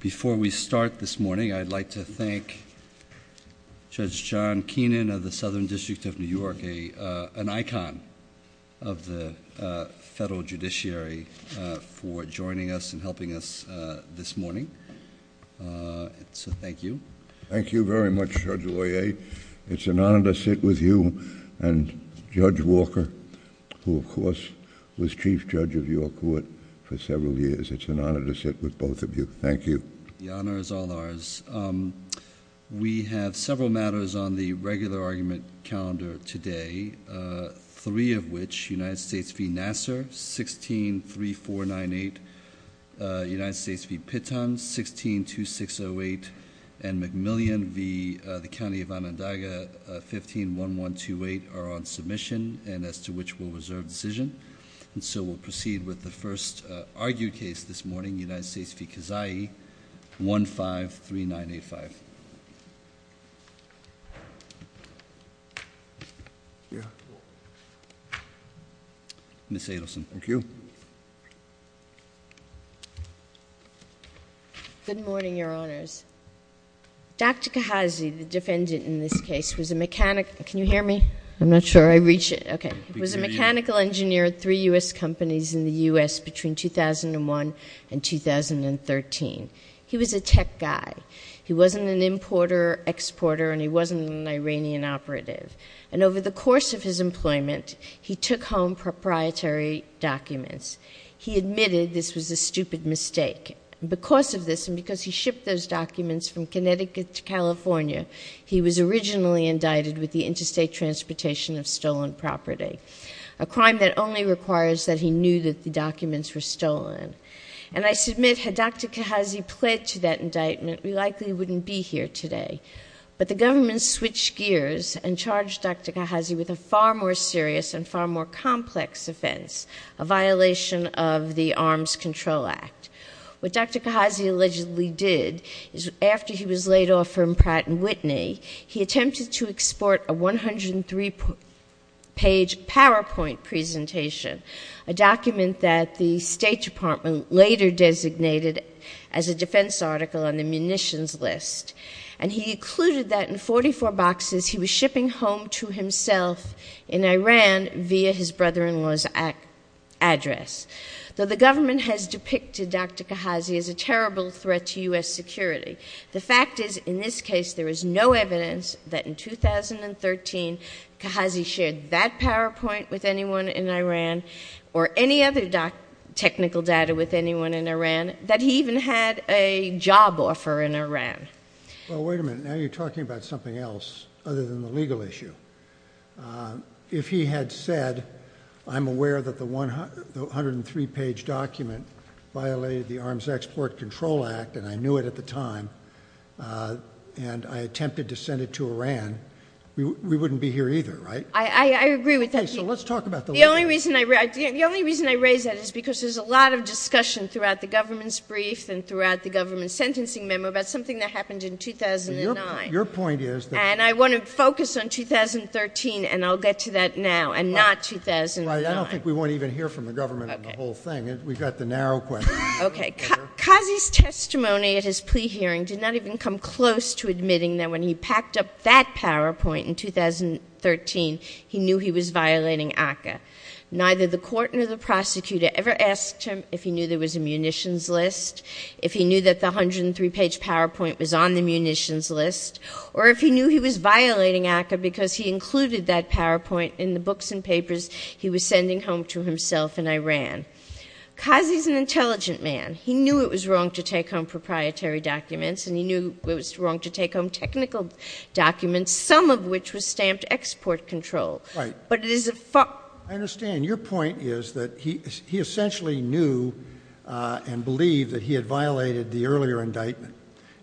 Before we start this morning, I'd like to thank Judge John Keenan of the Southern District of New York, an icon of the federal judiciary, for joining us and helping us this morning. So thank you. Thank you very much, Judge Loyer. It's an honor to sit with you and Judge Walker, who of course was chief judge of your court for several years. It's an honor to sit with both of you. Thank you. The honor is all ours. We have several matters on the regular argument calendar today, three of which, United States v. Nassar, 163498, United States v. Pitton, 162608, and McMillian v. the County of Onondaga, 151128, are on submission and as to which will reserve decision. And so we'll proceed with the first argued case this morning, United States v. Kazayi, 153985. Ms. Adelson. Thank you. Good morning, Your Honors. Dr. Kahazi, the defendant in this case, was a mechanic. Can you hear me? I'm not sure I reach it. Okay. He was a mechanic. He was in the United States between 2001 and 2013. He was a tech guy. He wasn't an importer, exporter, and he wasn't an Iranian operative. And over the course of his employment, he took home proprietary documents. He admitted this was a stupid mistake. Because of this and because he shipped those documents from Connecticut to California, he was originally indicted with the interstate transportation of stolen property, a crime that only requires that he knew that the documents were stolen. And I submit, had Dr. Kahazi pled to that indictment, we likely wouldn't be here today. But the government switched gears and charged Dr. Kahazi with a far more serious and far more complex offense, a violation of the Arms Control Act. What Dr. Kahazi allegedly did is after he was laid off from Pratt & Whitney, he attempted to export a 103-page PowerPoint presentation, a document that the State Department later designated as a defense article on the munitions list. And he included that in 44 boxes he was shipping home to himself in Iran via his brother-in-law's address. Though the government has depicted Dr. Kahazi as a terrible threat to U.S. security, the fact is, in this case, there is no evidence that in 2013, Kahazi shared that PowerPoint with anyone in Iran or any other technical data with anyone in Iran, that he even had a job offer in Iran. Well wait a minute, now you're talking about something else other than the legal issue. If he had said, I'm aware that the 103-page document violated the Arms Export Control Act, and I knew it at the time, and I attempted to send it to Iran, we wouldn't be here either, right? I agree with that. Okay, so let's talk about the legal issue. The only reason I raised that is because there's a lot of discussion throughout the government's brief and throughout the government's sentencing memo about something that happened in 2009. Your point is? And I want to focus on 2013, and I'll get to that now, and not 2009. Right, I don't think we want to even hear from the government on the whole thing. We've got the narrow question. Okay, Kahazi's testimony at his plea hearing did not even come close to admitting that when he packed up that PowerPoint in 2013, he knew he was violating ACCA. Neither the court nor the prosecutor ever asked him if he knew there was a munitions list, if he knew that the 103-page PowerPoint was on the munitions list, or if he knew he was violating ACCA because he included that PowerPoint in the books and papers he was sending home to himself in Iran. Kahazi's an intelligent man. He knew it was wrong to take home proprietary documents, some of which was stamped export control. I understand. Your point is that he essentially knew and believed that he had violated the earlier indictment,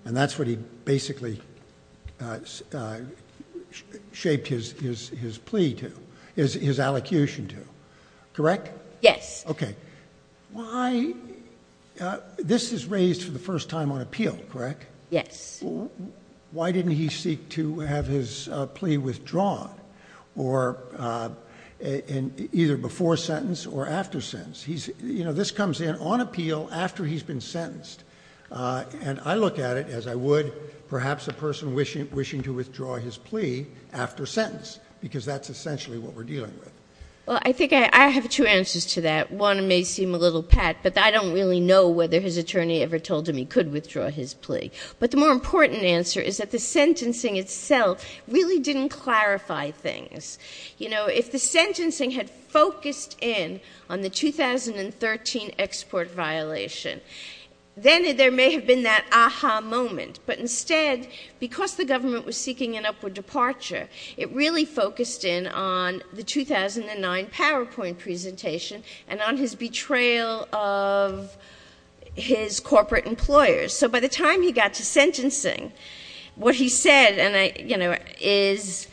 and that's what he basically shaped his plea to, his allocution to. Correct? Yes. Okay. This is raised for the first time on appeal, correct? Yes. Why didn't he seek to have his plea withdrawn, either before sentence or after sentence? This comes in on appeal after he's been sentenced, and I look at it as I would perhaps a person wishing to withdraw his plea after sentence, because that's essentially what we're dealing with. I think I have two answers to that. One may seem a little pat, but I don't really know whether his attorney ever told him he could withdraw his plea. But the more important answer is that the sentencing itself really didn't clarify things. If the sentencing had focused in on the 2013 export violation, then there may have been that aha moment. But instead, because the government was seeking an upward departure, it really focused in on the 2009 PowerPoint presentation and on his betrayal of his corporate employers. So by the time he got to sentencing, what he said, and I, you know, is,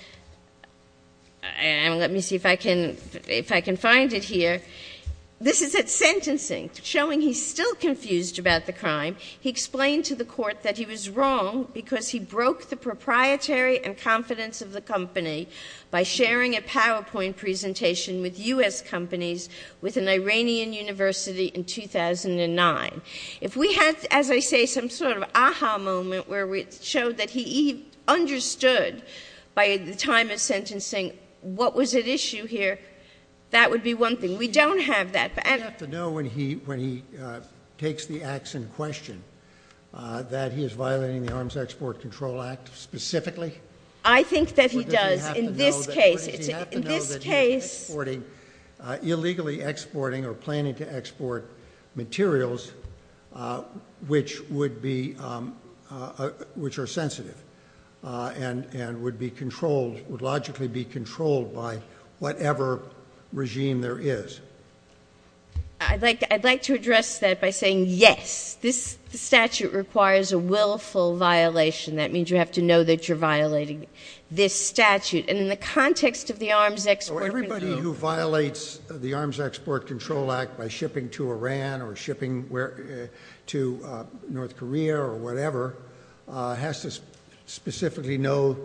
and let me see if I can, if I can find it here. This is at sentencing, showing he's still confused about the crime. He explained to the court that he was wrong because he broke the proprietary and confidence of the company by sharing a PowerPoint presentation with U.S. companies with an Iranian university in 2009. If we had, as I say, some sort of aha moment where we showed that he understood by the time of sentencing what was at issue here, that would be one thing. We don't have that. But I don't You have to know when he, when he takes the acts in question that he is violating the Arms Export Control Act specifically? I think that he does. In this case, in this case Does he have to know that he's exporting, illegally exporting or planning to export materials which would be, which are sensitive and, and would be controlled, would logically be controlled by whatever regime there is? I'd like, I'd like to address that by saying yes. This statute requires a this statute. And in the context of the Arms Export Control Act So everybody who violates the Arms Export Control Act by shipping to Iran or shipping to North Korea or whatever has to specifically know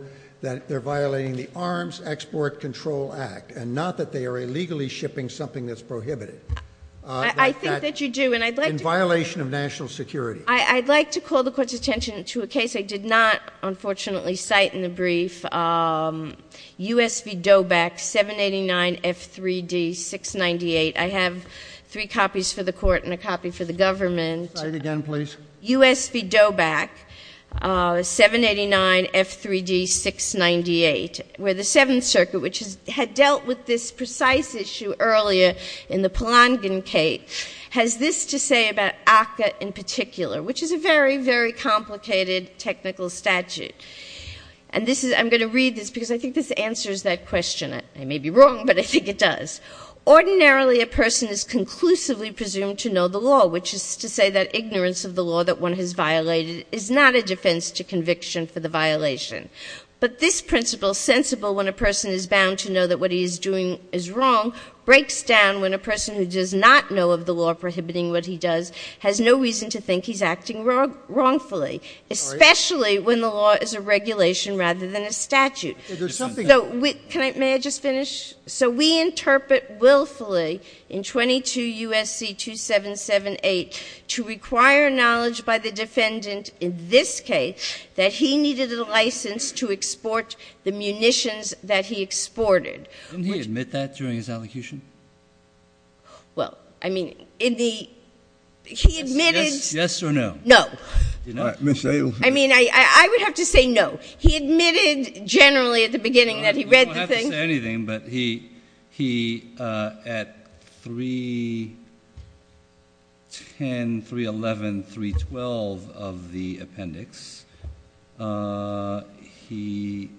that they're violating the Arms Export Control Act and not that they are illegally shipping something that's prohibited. I think that you do. And I'd like to In violation of national security. I'd like to call the court's attention to a case I did not unfortunately cite in the brief. U.S. v. Doback, 789 F3D 698. I have three copies for the court and a copy for the government. Say it again, please. U.S. v. Doback, 789 F3D 698, where the Seventh Circuit, which has, had dealt with this precise issue earlier in the Polangan Cate, has this to say about technical statute. And this is, I'm going to read this because I think this answers that question. I may be wrong, but I think it does. Ordinarily a person is conclusively presumed to know the law, which is to say that ignorance of the law that one has violated is not a defense to conviction for the violation. But this principle, sensible when a person is bound to know that what he is doing is wrong, breaks down when a person who does not know of the law prohibiting what he does has no reason to think he's acting wrongfully, especially when the law is a regulation rather than a statute. May I just finish? So we interpret willfully in 22 U.S.C. 2778 to require knowledge by the defendant in this case that he needed a license to export the munitions that he exported. Didn't he admit that during his allocution? Well, I mean, in the, he admitted. Yes or no? No. I mean, I would have to say no. He admitted generally at the beginning that he read the thing. I don't have to say anything, but he at 310, 311, 312 of the appendix, he,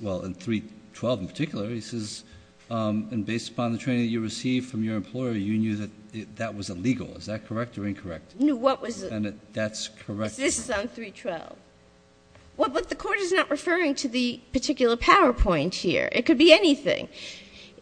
well, in 312 in particular, he says, and based upon the training you received from your employer, you knew that that was illegal. Is that correct or incorrect? No, what was it? And that's correct. This is on 312. Well, but the court is not referring to the particular PowerPoint here. It could be anything.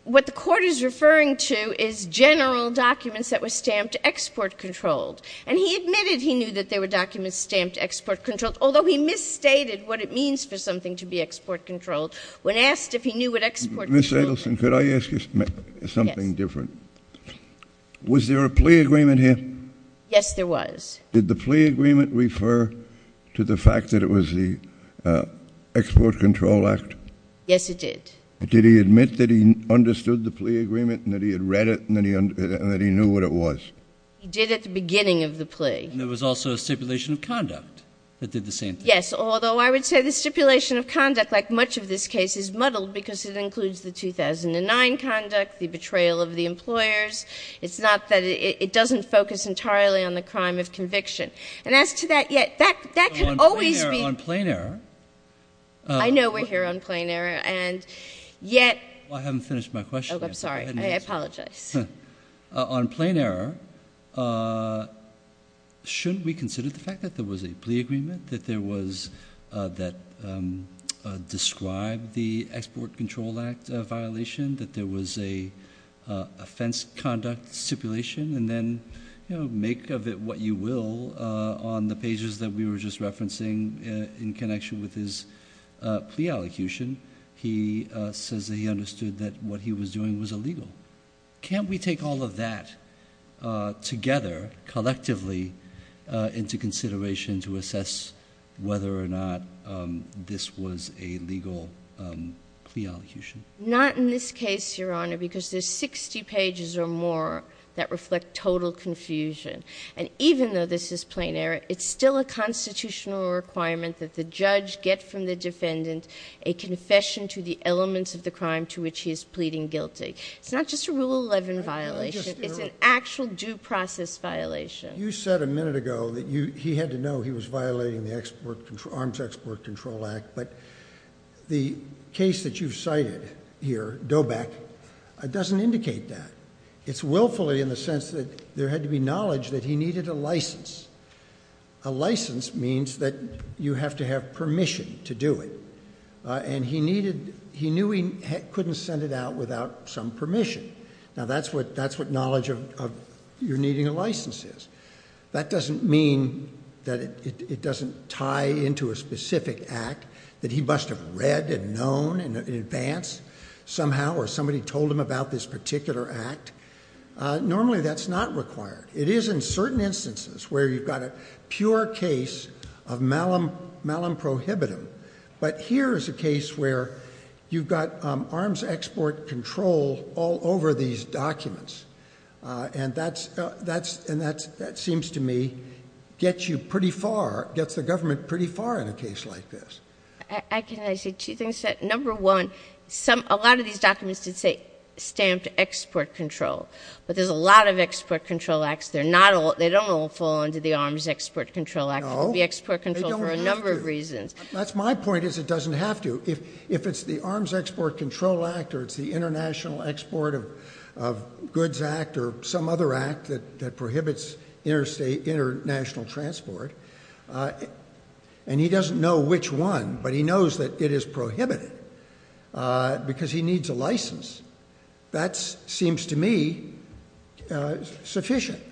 What the court is referring to is general documents that were stamped export-controlled. And he admitted he knew that they were documents stamped export-controlled, although he misstated what it means for something to be export-controlled. When asked if he knew what export-controlled was. Ms. Adelson, could I ask you something different? Yes. Was there a plea agreement here? Yes, there was. Did the plea agreement refer to the fact that it was the Export Control Act? Yes, it did. Did he admit that he understood the plea agreement and that he had read it and that he knew what it was? He did at the beginning of the plea. And there was also a stipulation of conduct that did the same thing. Yes, although I would say the stipulation of conduct, like much of this case, is muddled because it includes the 2009 conduct, the betrayal of the employers. It's not that it doesn't focus entirely on the crime of conviction. And as to that yet, that can always be. On plain error. I know we're here on plain error. And yet. I haven't finished my question yet. Oh, I'm sorry. I apologize. On plain error, shouldn't we consider the fact that there was a plea agreement, that described the Export Control Act violation, that there was an offense conduct stipulation, and then make of it what you will on the pages that we were just referencing in connection with his plea allocution? He says that he understood that what he was doing was illegal. Can't we take all of that together, collectively, into consideration to assess whether or not this was a legal plea allocation? Not in this case, Your Honor, because there's 60 pages or more that reflect total confusion. And even though this is plain error, it's still a constitutional requirement that the judge get from the defendant a confession to the elements of the crime to which he is pleading guilty. It's not just a Rule 11 violation. It's an actual due process violation. You said a minute ago that he had to know he was violating the Arms Export Control Act, but the case that you've cited here, Doback, doesn't indicate that. It's willfully in the sense that there had to be knowledge that he needed a license. A license means that you have to have permission to do it, and he knew he couldn't send it out without some permission. Now, that's what knowledge of you needing a license is. That doesn't mean that it doesn't tie into a specific act that he must have read and known in advance somehow or somebody told him about this particular act. Normally, that's not required. It is in certain instances where you've got a pure case of malum prohibitum, but here is a case where you've got arms export control all over these documents, and that seems to me gets you pretty far, gets the government pretty far in a case like this. Can I say two things? Number one, a lot of these documents did say stamped export control, but there's a lot of export control acts. They don't all fall under the arms export control act. There will be export control for a number of reasons. No, they don't have to. That's my point is it doesn't have to. If it's the arms export control act or it's the international export of goods act or some other act that prohibits international transport, and he doesn't know which one, but he knows that it is prohibited because he needs a license, that seems to me sufficient.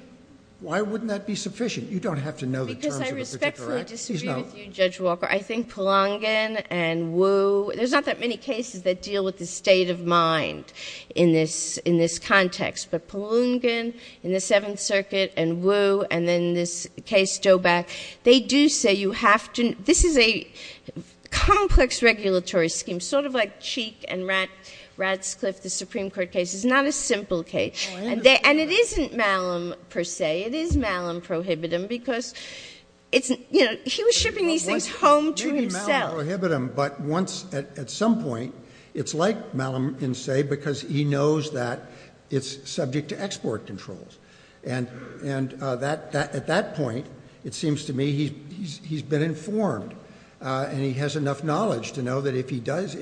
Why wouldn't that be sufficient? You don't have to know the terms of a particular act. Because I respectfully disagree with you, Judge Walker. I think Palungan and Wu, there's not that many cases that deal with the state of mind in this context, but Palungan in the Seventh Circuit and Wu and then this case Dobeck, they do say you have to, this is a complex regulatory scheme, sort of like Cheek and Radscliffe, the Supreme Court case. It's not a simple case. And it isn't Malum per se. It is Malum prohibitum because he was shipping these things home to himself. Maybe Malum prohibitum, but at some point it's like Malum in say because he knows that it's subject to export controls. And at that point, it seems to me he's been informed and he has enough knowledge to know that if he does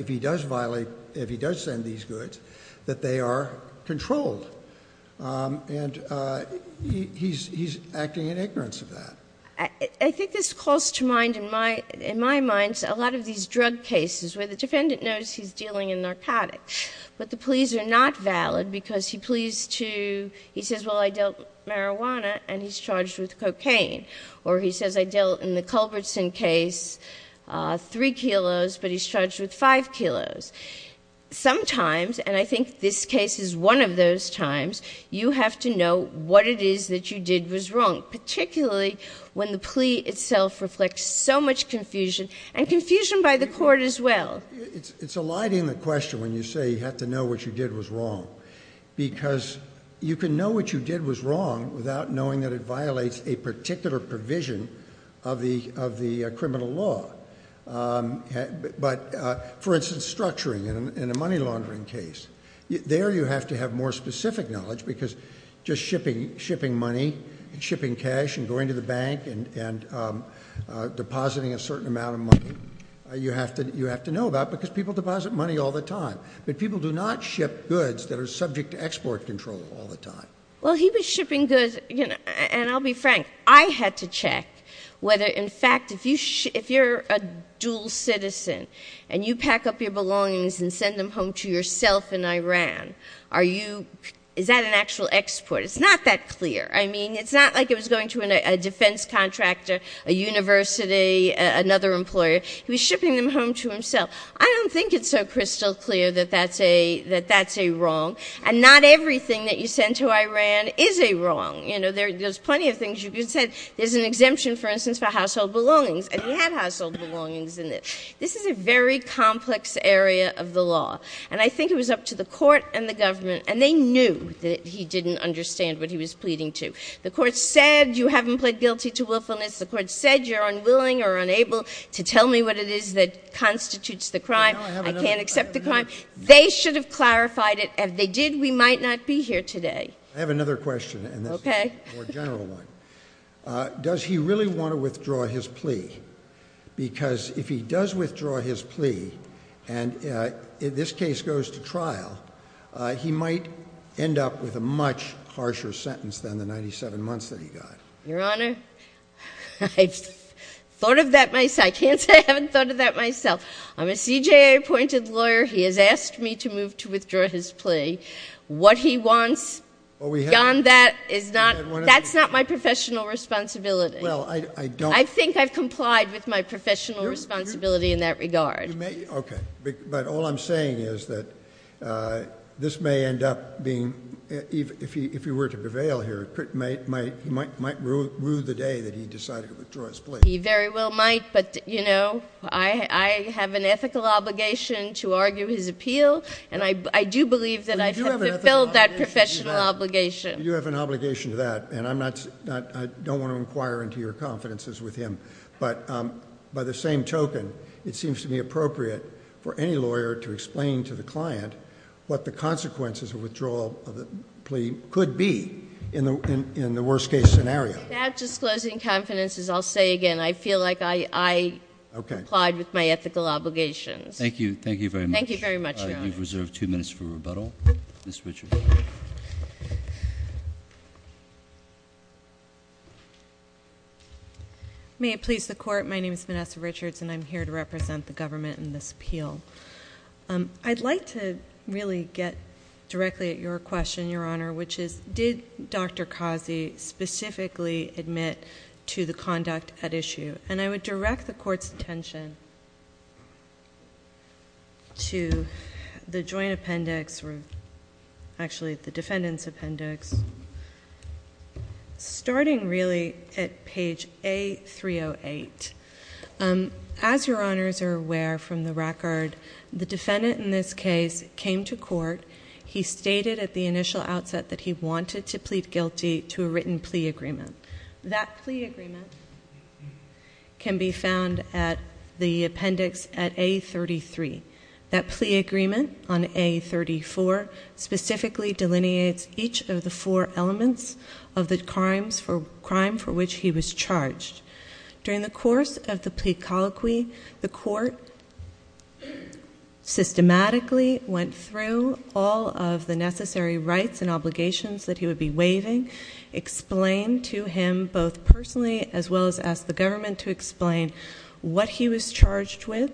violate, if he does send these goods, that they are controlled. And he's acting in ignorance of that. I think this calls to mind in my mind a lot of these drug cases where the defendant knows he's dealing in narcotics, but the pleas are not valid because he pleads to, he says, well, I dealt marijuana and he's charged with cocaine. Or he says, I dealt in the Culbertson case three kilos, but he's charged with five kilos. Sometimes, and I think this case is one of those times, you have to know what it is that you did was wrong, particularly when the plea itself reflects so much confusion and confusion by the court as well. It's a light in the question when you say you have to know what you did was wrong because you can know what you did was wrong without knowing that it violates a particular provision of the criminal law. But, for instance, structuring in a money laundering case, there you have to have more specific knowledge because just shipping money and shipping cash and going to the bank and depositing a certain amount of money, you have to know about because people deposit money all the time. But people do not ship goods that are subject to export control all the time. Well, he was shipping goods, and I'll be frank, I had to check whether, in fact, if you're a dual citizen and you pack up your belongings and send them home to yourself in Iran, is that an actual export? It's not that clear. I mean, it's not like it was going to a defense contractor, a university, another employer. He was shipping them home to himself. I don't think it's so crystal clear that that's a wrong. And not everything that you send to Iran is a wrong. You know, there's plenty of things you can send. There's an exemption, for instance, for household belongings, and he had household belongings in it. This is a very complex area of the law, and I think it was up to the court and the government, and they knew that he didn't understand what he was pleading to. The court said you haven't pled guilty to willfulness. The court said you're unwilling or unable to tell me what it is that constitutes the crime. I can't accept the crime. They should have clarified it. If they did, we might not be here today. I have another question. Okay. A more general one. Does he really want to withdraw his plea? Because if he does withdraw his plea and this case goes to trial, he might end up with a much harsher sentence than the 97 months that he got. Your Honor, I've thought of that myself. I can't say I haven't thought of that myself. I'm a CJA-appointed lawyer. He has asked me to move to withdraw his plea. What he wants beyond that is not my professional responsibility. I think I've complied with my professional responsibility in that regard. Okay. But all I'm saying is that this may end up being, if he were to prevail here, he might rue the day that he decided to withdraw his plea. He very well might. I have an ethical obligation to argue his appeal, and I do believe that I have fulfilled that professional obligation. You do have an obligation to that, and I don't want to inquire into your confidences with him. But by the same token, it seems to me appropriate for any lawyer to explain to the client what the consequences of withdrawal of the plea could be in the worst-case scenario. Without disclosing confidence, as I'll say again, I feel like I complied with my ethical obligations. Thank you very much. Thank you very much, Your Honor. You've reserved two minutes for rebuttal. Ms. Richards. May it please the Court, my name is Vanessa Richards, and I'm here to represent the government in this appeal. I'd like to really get directly at your question, Your Honor, which is did Dr. Kazi specifically admit to the conduct at issue? And I would direct the Court's attention to the joint appendix, or actually the defendant's appendix, starting really at page A-308. As Your Honors are aware from the record, the defendant in this case came to court. He stated at the initial outset that he wanted to plead guilty to a written plea agreement. That plea agreement can be found at the appendix at A-33. That plea agreement on A-34 specifically delineates each of the four elements of the crime for which he was charged. During the course of the plea colloquy, the Court systematically went through all of the necessary rights and obligations that he would be waiving, explained to him both personally as well as asked the government to explain what he was charged with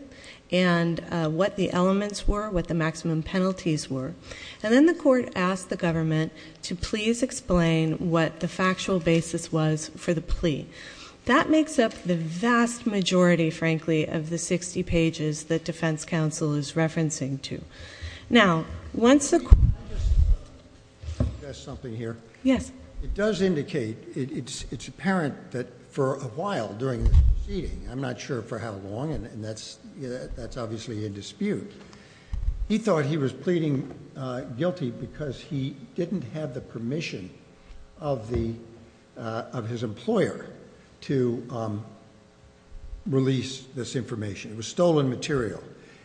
and what the elements were, what the maximum penalties were. And then the Court asked the government to please explain what the factual basis was for the plea. That makes up the vast majority, frankly, of the 60 pages that defense counsel is referencing to. Now, once the... Can I just add something here? Yes. It does indicate, it's apparent that for a while during the proceeding, I'm not sure for how long, and that's obviously in dispute, he thought he was pleading guilty because he didn't have the permission of his employer to release this information. It was stolen material.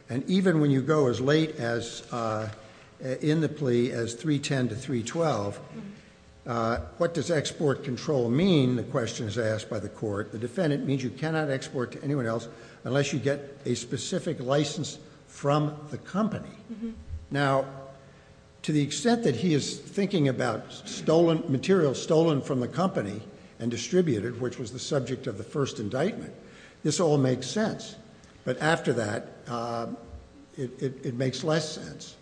And even when you go as late in the plea as 310 to 312, what does export control mean? The question is asked by the Court. The defendant means you cannot export to anyone else unless you get a specific license from the company. Now, to the extent that he is thinking about stolen material, stolen from the company and distributed, which was the subject of the first indictment, this all makes sense. But after that, it makes less sense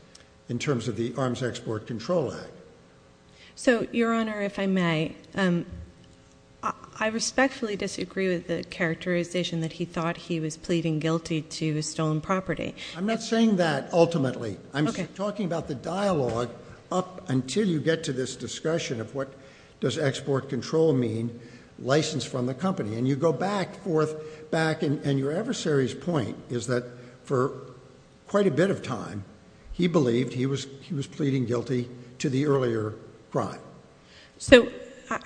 in terms of the Arms Export Control Act. So, Your Honor, if I may, I respectfully disagree with the characterization that he thought he was pleading guilty to stolen property. I'm not saying that ultimately. I'm talking about the dialogue up until you get to this discussion of what does export control mean, license from the company. And you go back, forth, back, and your adversary's point is that for quite a bit of time, he believed he was pleading guilty to the earlier crime. So,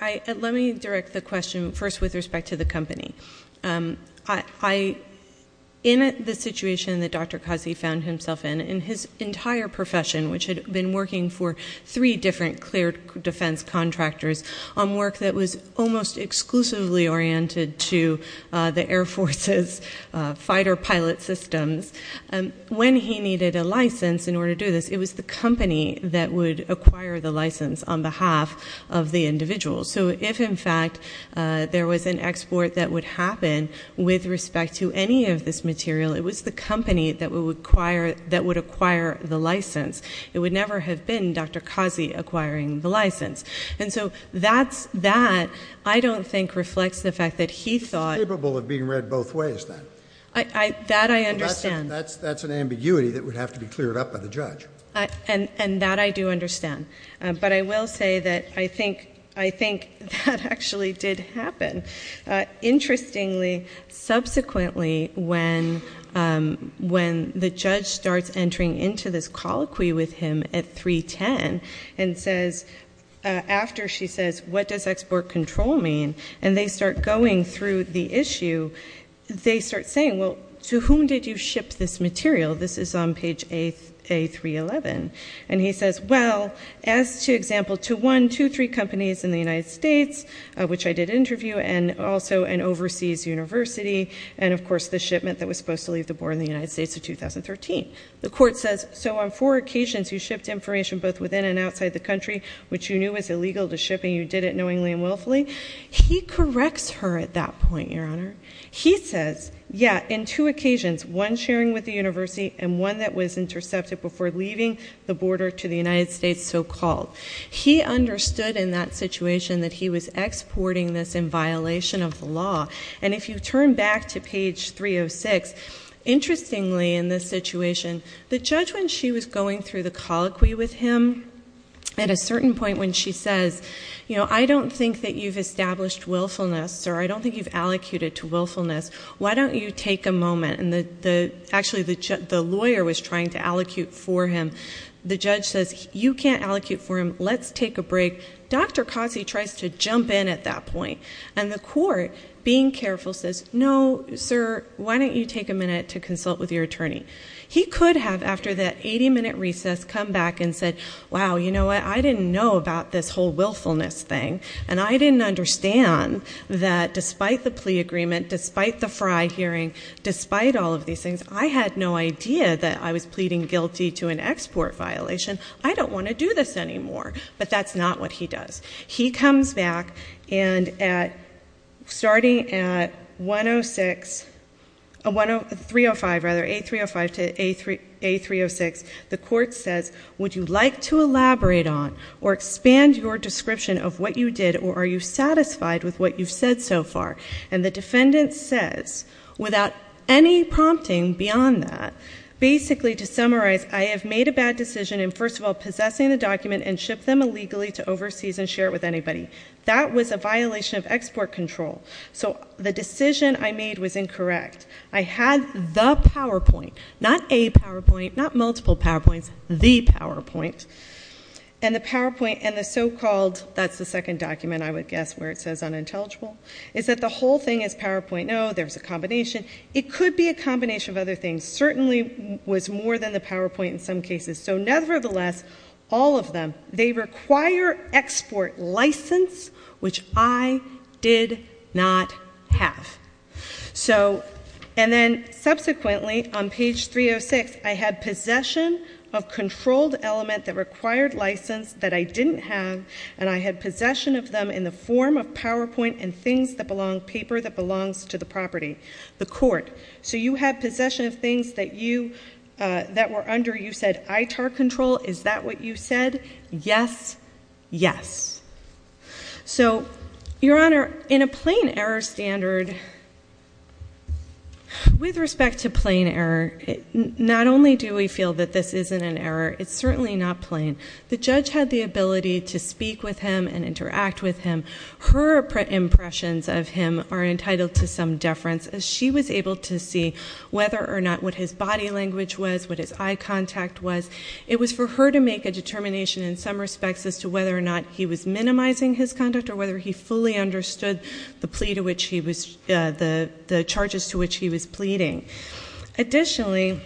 let me direct the question first with respect to the company. In the situation that Dr. Kazi found himself in, in his entire profession, which had been working for three different clear defense contractors on work that was almost exclusively oriented to the Air Force's fighter pilot systems, when he needed a license in order to do this, it was the company that would acquire the license on behalf of the individual. So, if, in fact, there was an export that would happen with respect to any of this material, it was the company that would acquire the license. It would never have been Dr. Kazi acquiring the license. And so, that, I don't think, reflects the fact that he thought. He was capable of being read both ways then. That I understand. That's an ambiguity that would have to be cleared up by the judge. And that I do understand. But I will say that I think that actually did happen. Interestingly, subsequently, when the judge starts entering into this colloquy with him at 310, and says, after she says, what does export control mean, and they start going through the issue, they start saying, well, to whom did you ship this material? This is on page A311. And he says, well, as to example, to one, two, three companies in the United States, which I did interview, and also an overseas university, and, of course, the shipment that was supposed to leave the border in the United States of 2013. The court says, so, on four occasions, you shipped information both within and outside the country, which you knew was illegal to ship, and you did it knowingly and willfully. He corrects her at that point, Your Honor. He says, yeah, in two occasions, one sharing with the university, and one that was intercepted before leaving the border to the United States, so-called. He understood in that situation that he was exporting this in violation of the law. And if you turn back to page 306, interestingly, in this situation, the judge, when she was going through the colloquy with him, at a certain point when she says, you know, I don't think that you've established willfulness, or I don't think you've allocated to willfulness. Why don't you take a moment? Actually, the lawyer was trying to allocate for him. The judge says, you can't allocate for him. Let's take a break. Dr. Cossie tries to jump in at that point. And the court, being careful, says, no, sir, why don't you take a minute to consult with your attorney? He could have, after that 80-minute recess, come back and said, wow, you know what? I didn't know about this whole willfulness thing, and I didn't understand that despite the plea agreement, despite the Fry hearing, despite all of these things, I had no idea that I was pleading guilty to an export violation. I don't want to do this anymore. But that's not what he does. He comes back, and starting at 305, rather, A305 to A306, the court says, would you like to elaborate on or expand your description of what you did, or are you satisfied with what you've said so far? And the defendant says, without any prompting beyond that, basically to summarize, I have made a bad decision in, first of all, possessing the document and shipped them illegally to overseas and share it with anybody. That was a violation of export control. So the decision I made was incorrect. I had the PowerPoint, not a PowerPoint, not multiple PowerPoints, the PowerPoint. And the PowerPoint and the so-called, that's the second document, I would guess, where it says unintelligible, is that the whole thing is PowerPoint. No, there's a combination. It could be a combination of other things. Certainly was more than the PowerPoint in some cases. So nevertheless, all of them, they require export license, which I did not have. And then subsequently, on page 306, I had possession of controlled element that required license that I didn't have, and I had possession of them in the form of PowerPoint and things that belong, paper that belongs to the property, the court. So you had possession of things that were under, you said, ITAR control. Is that what you said? Yes, yes. So, Your Honor, in a plain error standard, with respect to plain error, not only do we feel that this isn't an error, it's certainly not plain. The judge had the ability to speak with him and interact with him. Her impressions of him are entitled to some deference, as she was able to see whether or not what his body language was, what his eye contact was. It was for her to make a determination in some respects as to whether or not he was minimizing his conduct or whether he fully understood the charges to which he was pleading. Additionally,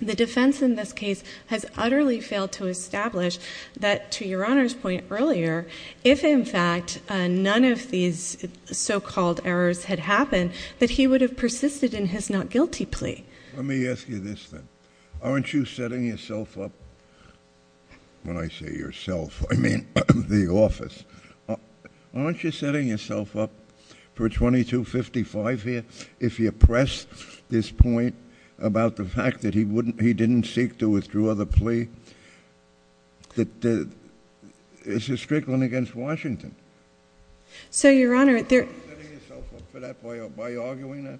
the defense in this case has utterly failed to establish that, to Your Honor's point earlier, if, in fact, none of these so-called errors had happened, that he would have persisted in his not-guilty plea. Let me ask you this, then. Aren't you setting yourself up, when I say yourself, I mean the office. Aren't you setting yourself up for a 2255 here? If you press this point about the fact that he didn't seek to withdraw the plea, it's a strickling against Washington. So, Your Honor, there... Aren't you setting yourself up for that by arguing that?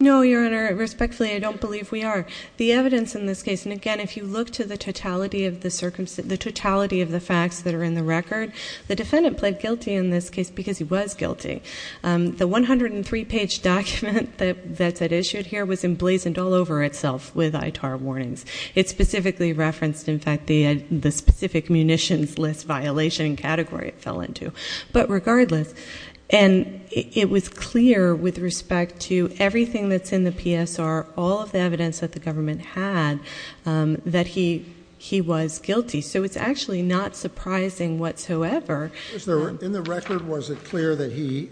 No, Your Honor, respectfully, I don't believe we are. The evidence in this case, and again, if you look to the totality of the facts that are in the record, the defendant pled guilty in this case because he was guilty. The 103-page document that's issued here was emblazoned all over itself with ITAR warnings. It specifically referenced, in fact, the specific munitions list violation category it fell into. But regardless, and it was clear with respect to everything that's in the PSR, all of the evidence that the government had, that he was guilty. So it's actually not surprising whatsoever. In the record, was it clear that he,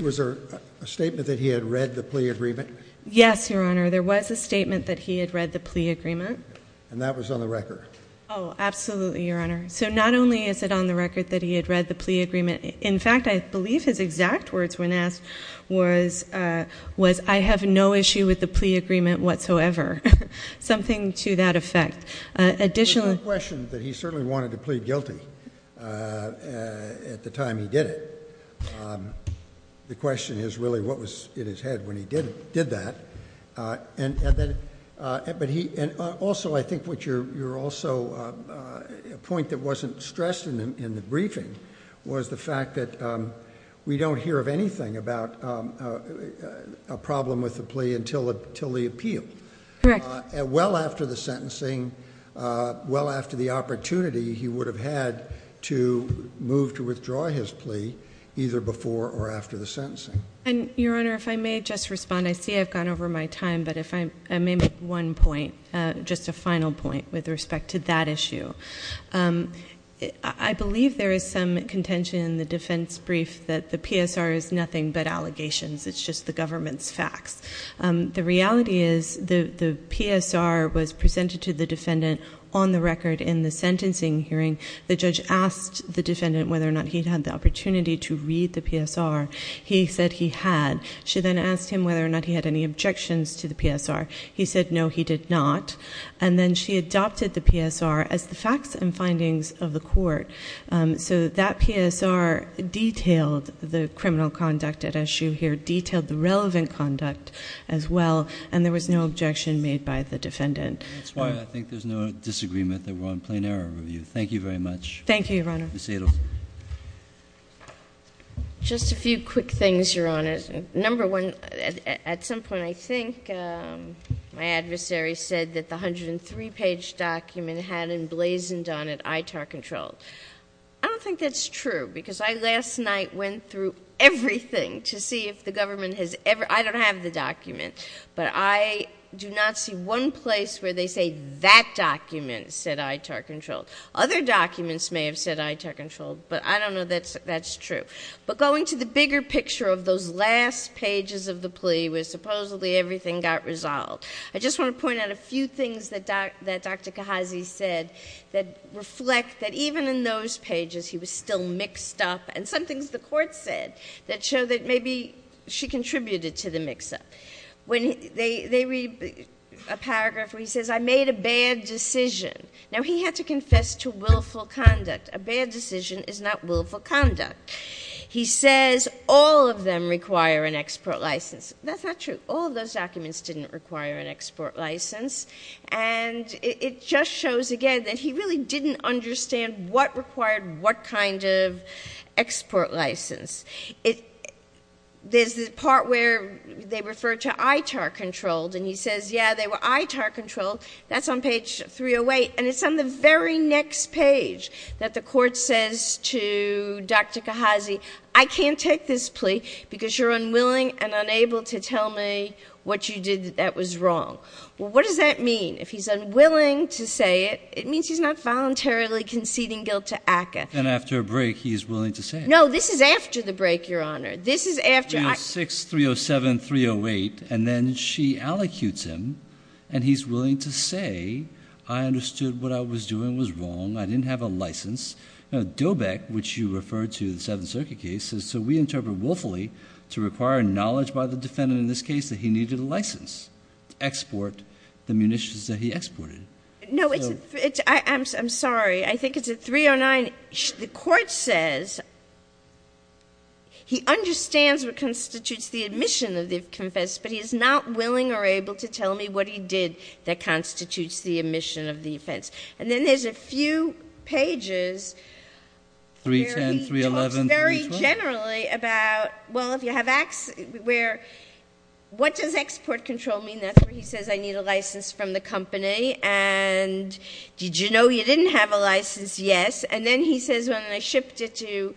was there a statement that he had read the plea agreement? Yes, Your Honor, there was a statement that he had read the plea agreement. And that was on the record? Oh, absolutely, Your Honor. So not only is it on the record that he had read the plea agreement, in fact, I believe his exact words when asked was, I have no issue with the plea agreement whatsoever, something to that effect. There's no question that he certainly wanted to plead guilty at the time he did it. The question is really what was in his head when he did that. And also, I think what you're also, a point that wasn't stressed in the briefing, was the fact that we don't hear of anything about a problem with the plea until the appeal. Correct. Well after the sentencing, well after the opportunity he would have had to move to withdraw his plea, either before or after the sentencing. And, Your Honor, if I may just respond. I see I've gone over my time, but if I may make one point, just a final point with respect to that issue. I believe there is some contention in the defense brief that the PSR is nothing but allegations. It's just the government's facts. The reality is the PSR was presented to the defendant on the record in the sentencing hearing. The judge asked the defendant whether or not he had the opportunity to read the PSR. He said he had. She then asked him whether or not he had any objections to the PSR. He said no, he did not. And then she adopted the PSR as the facts and findings of the court. So that PSR detailed the criminal conduct at issue here, detailed the relevant conduct as well, and there was no objection made by the defendant. That's why I think there's no disagreement that we're on plain error review. Thank you very much. Thank you, Your Honor. Ms. Adelman. Just a few quick things, Your Honor. Number one, at some point I think my adversary said that the 103-page document had emblazoned on it ITAR-controlled. I don't think that's true because I last night went through everything to see if the government has ever ‑‑ I don't have the document, but I do not see one place where they say that document said ITAR-controlled. Other documents may have said ITAR-controlled, but I don't know that that's true. But going to the bigger picture of those last pages of the plea where supposedly everything got resolved, I just want to point out a few things that Dr. Kahazi said that reflect that even in those pages he was still mixed up, and some things the court said that show that maybe she contributed to the mix-up. When they read a paragraph where he says, I made a bad decision. Now, he had to confess to willful conduct. A bad decision is not willful conduct. He says all of them require an export license. That's not true. All of those documents didn't require an export license, and it just shows again that he really didn't understand what required what kind of export license. There's the part where they refer to ITAR-controlled, and he says, yeah, they were ITAR-controlled. That's on page 308, and it's on the very next page that the court says to Dr. Kahazi, I can't take this plea because you're unwilling and unable to tell me what you did that was wrong. Well, what does that mean? If he's unwilling to say it, it means he's not voluntarily conceding guilt to ACCA. And after a break, he is willing to say it. No, this is after the break, Your Honor. 36307, 308, and then she allocutes him, and he's willing to say, I understood what I was doing was wrong. I didn't have a license. Now, DOBEC, which you referred to, the Seventh Circuit case, so we interpret willfully to require knowledge by the defendant in this case that he needed a license to export the munitions that he exported. No, I'm sorry. I think it's at 309. The court says he understands what constitutes the admission of the offense, but he is not willing or able to tell me what he did that constitutes the admission of the offense. And then there's a few pages where he talks very generally about, well, if you have acts where, what does export control mean? That's where he says I need a license from the company, and did you know you didn't have a license? Yes. And then he says when I shipped it to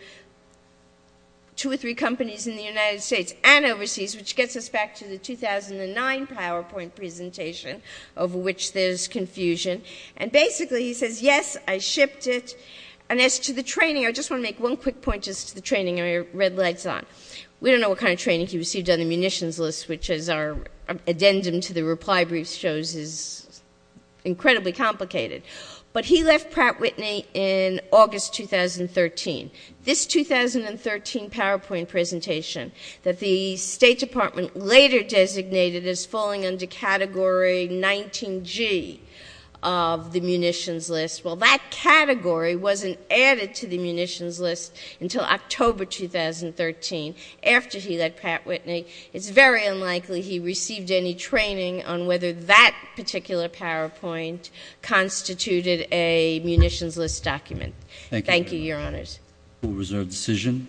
two or three companies in the United States and overseas, which gets us back to the 2009 PowerPoint presentation, over which there's confusion. And basically he says, yes, I shipped it. And as to the training, I just want to make one quick point as to the training. I have my red lights on. We don't know what kind of training he received on the munitions list, which, as our addendum to the reply brief shows, is incredibly complicated. But he left Pratt Whitney in August 2013. This 2013 PowerPoint presentation that the State Department later designated as falling under Category 19G of the munitions list, well, that category wasn't added to the munitions list until October 2013 after he left Pratt Whitney. It's very unlikely he received any training on whether that particular PowerPoint constituted a munitions list document. Thank you, Your Honors. Thank you. Rule reserve decision.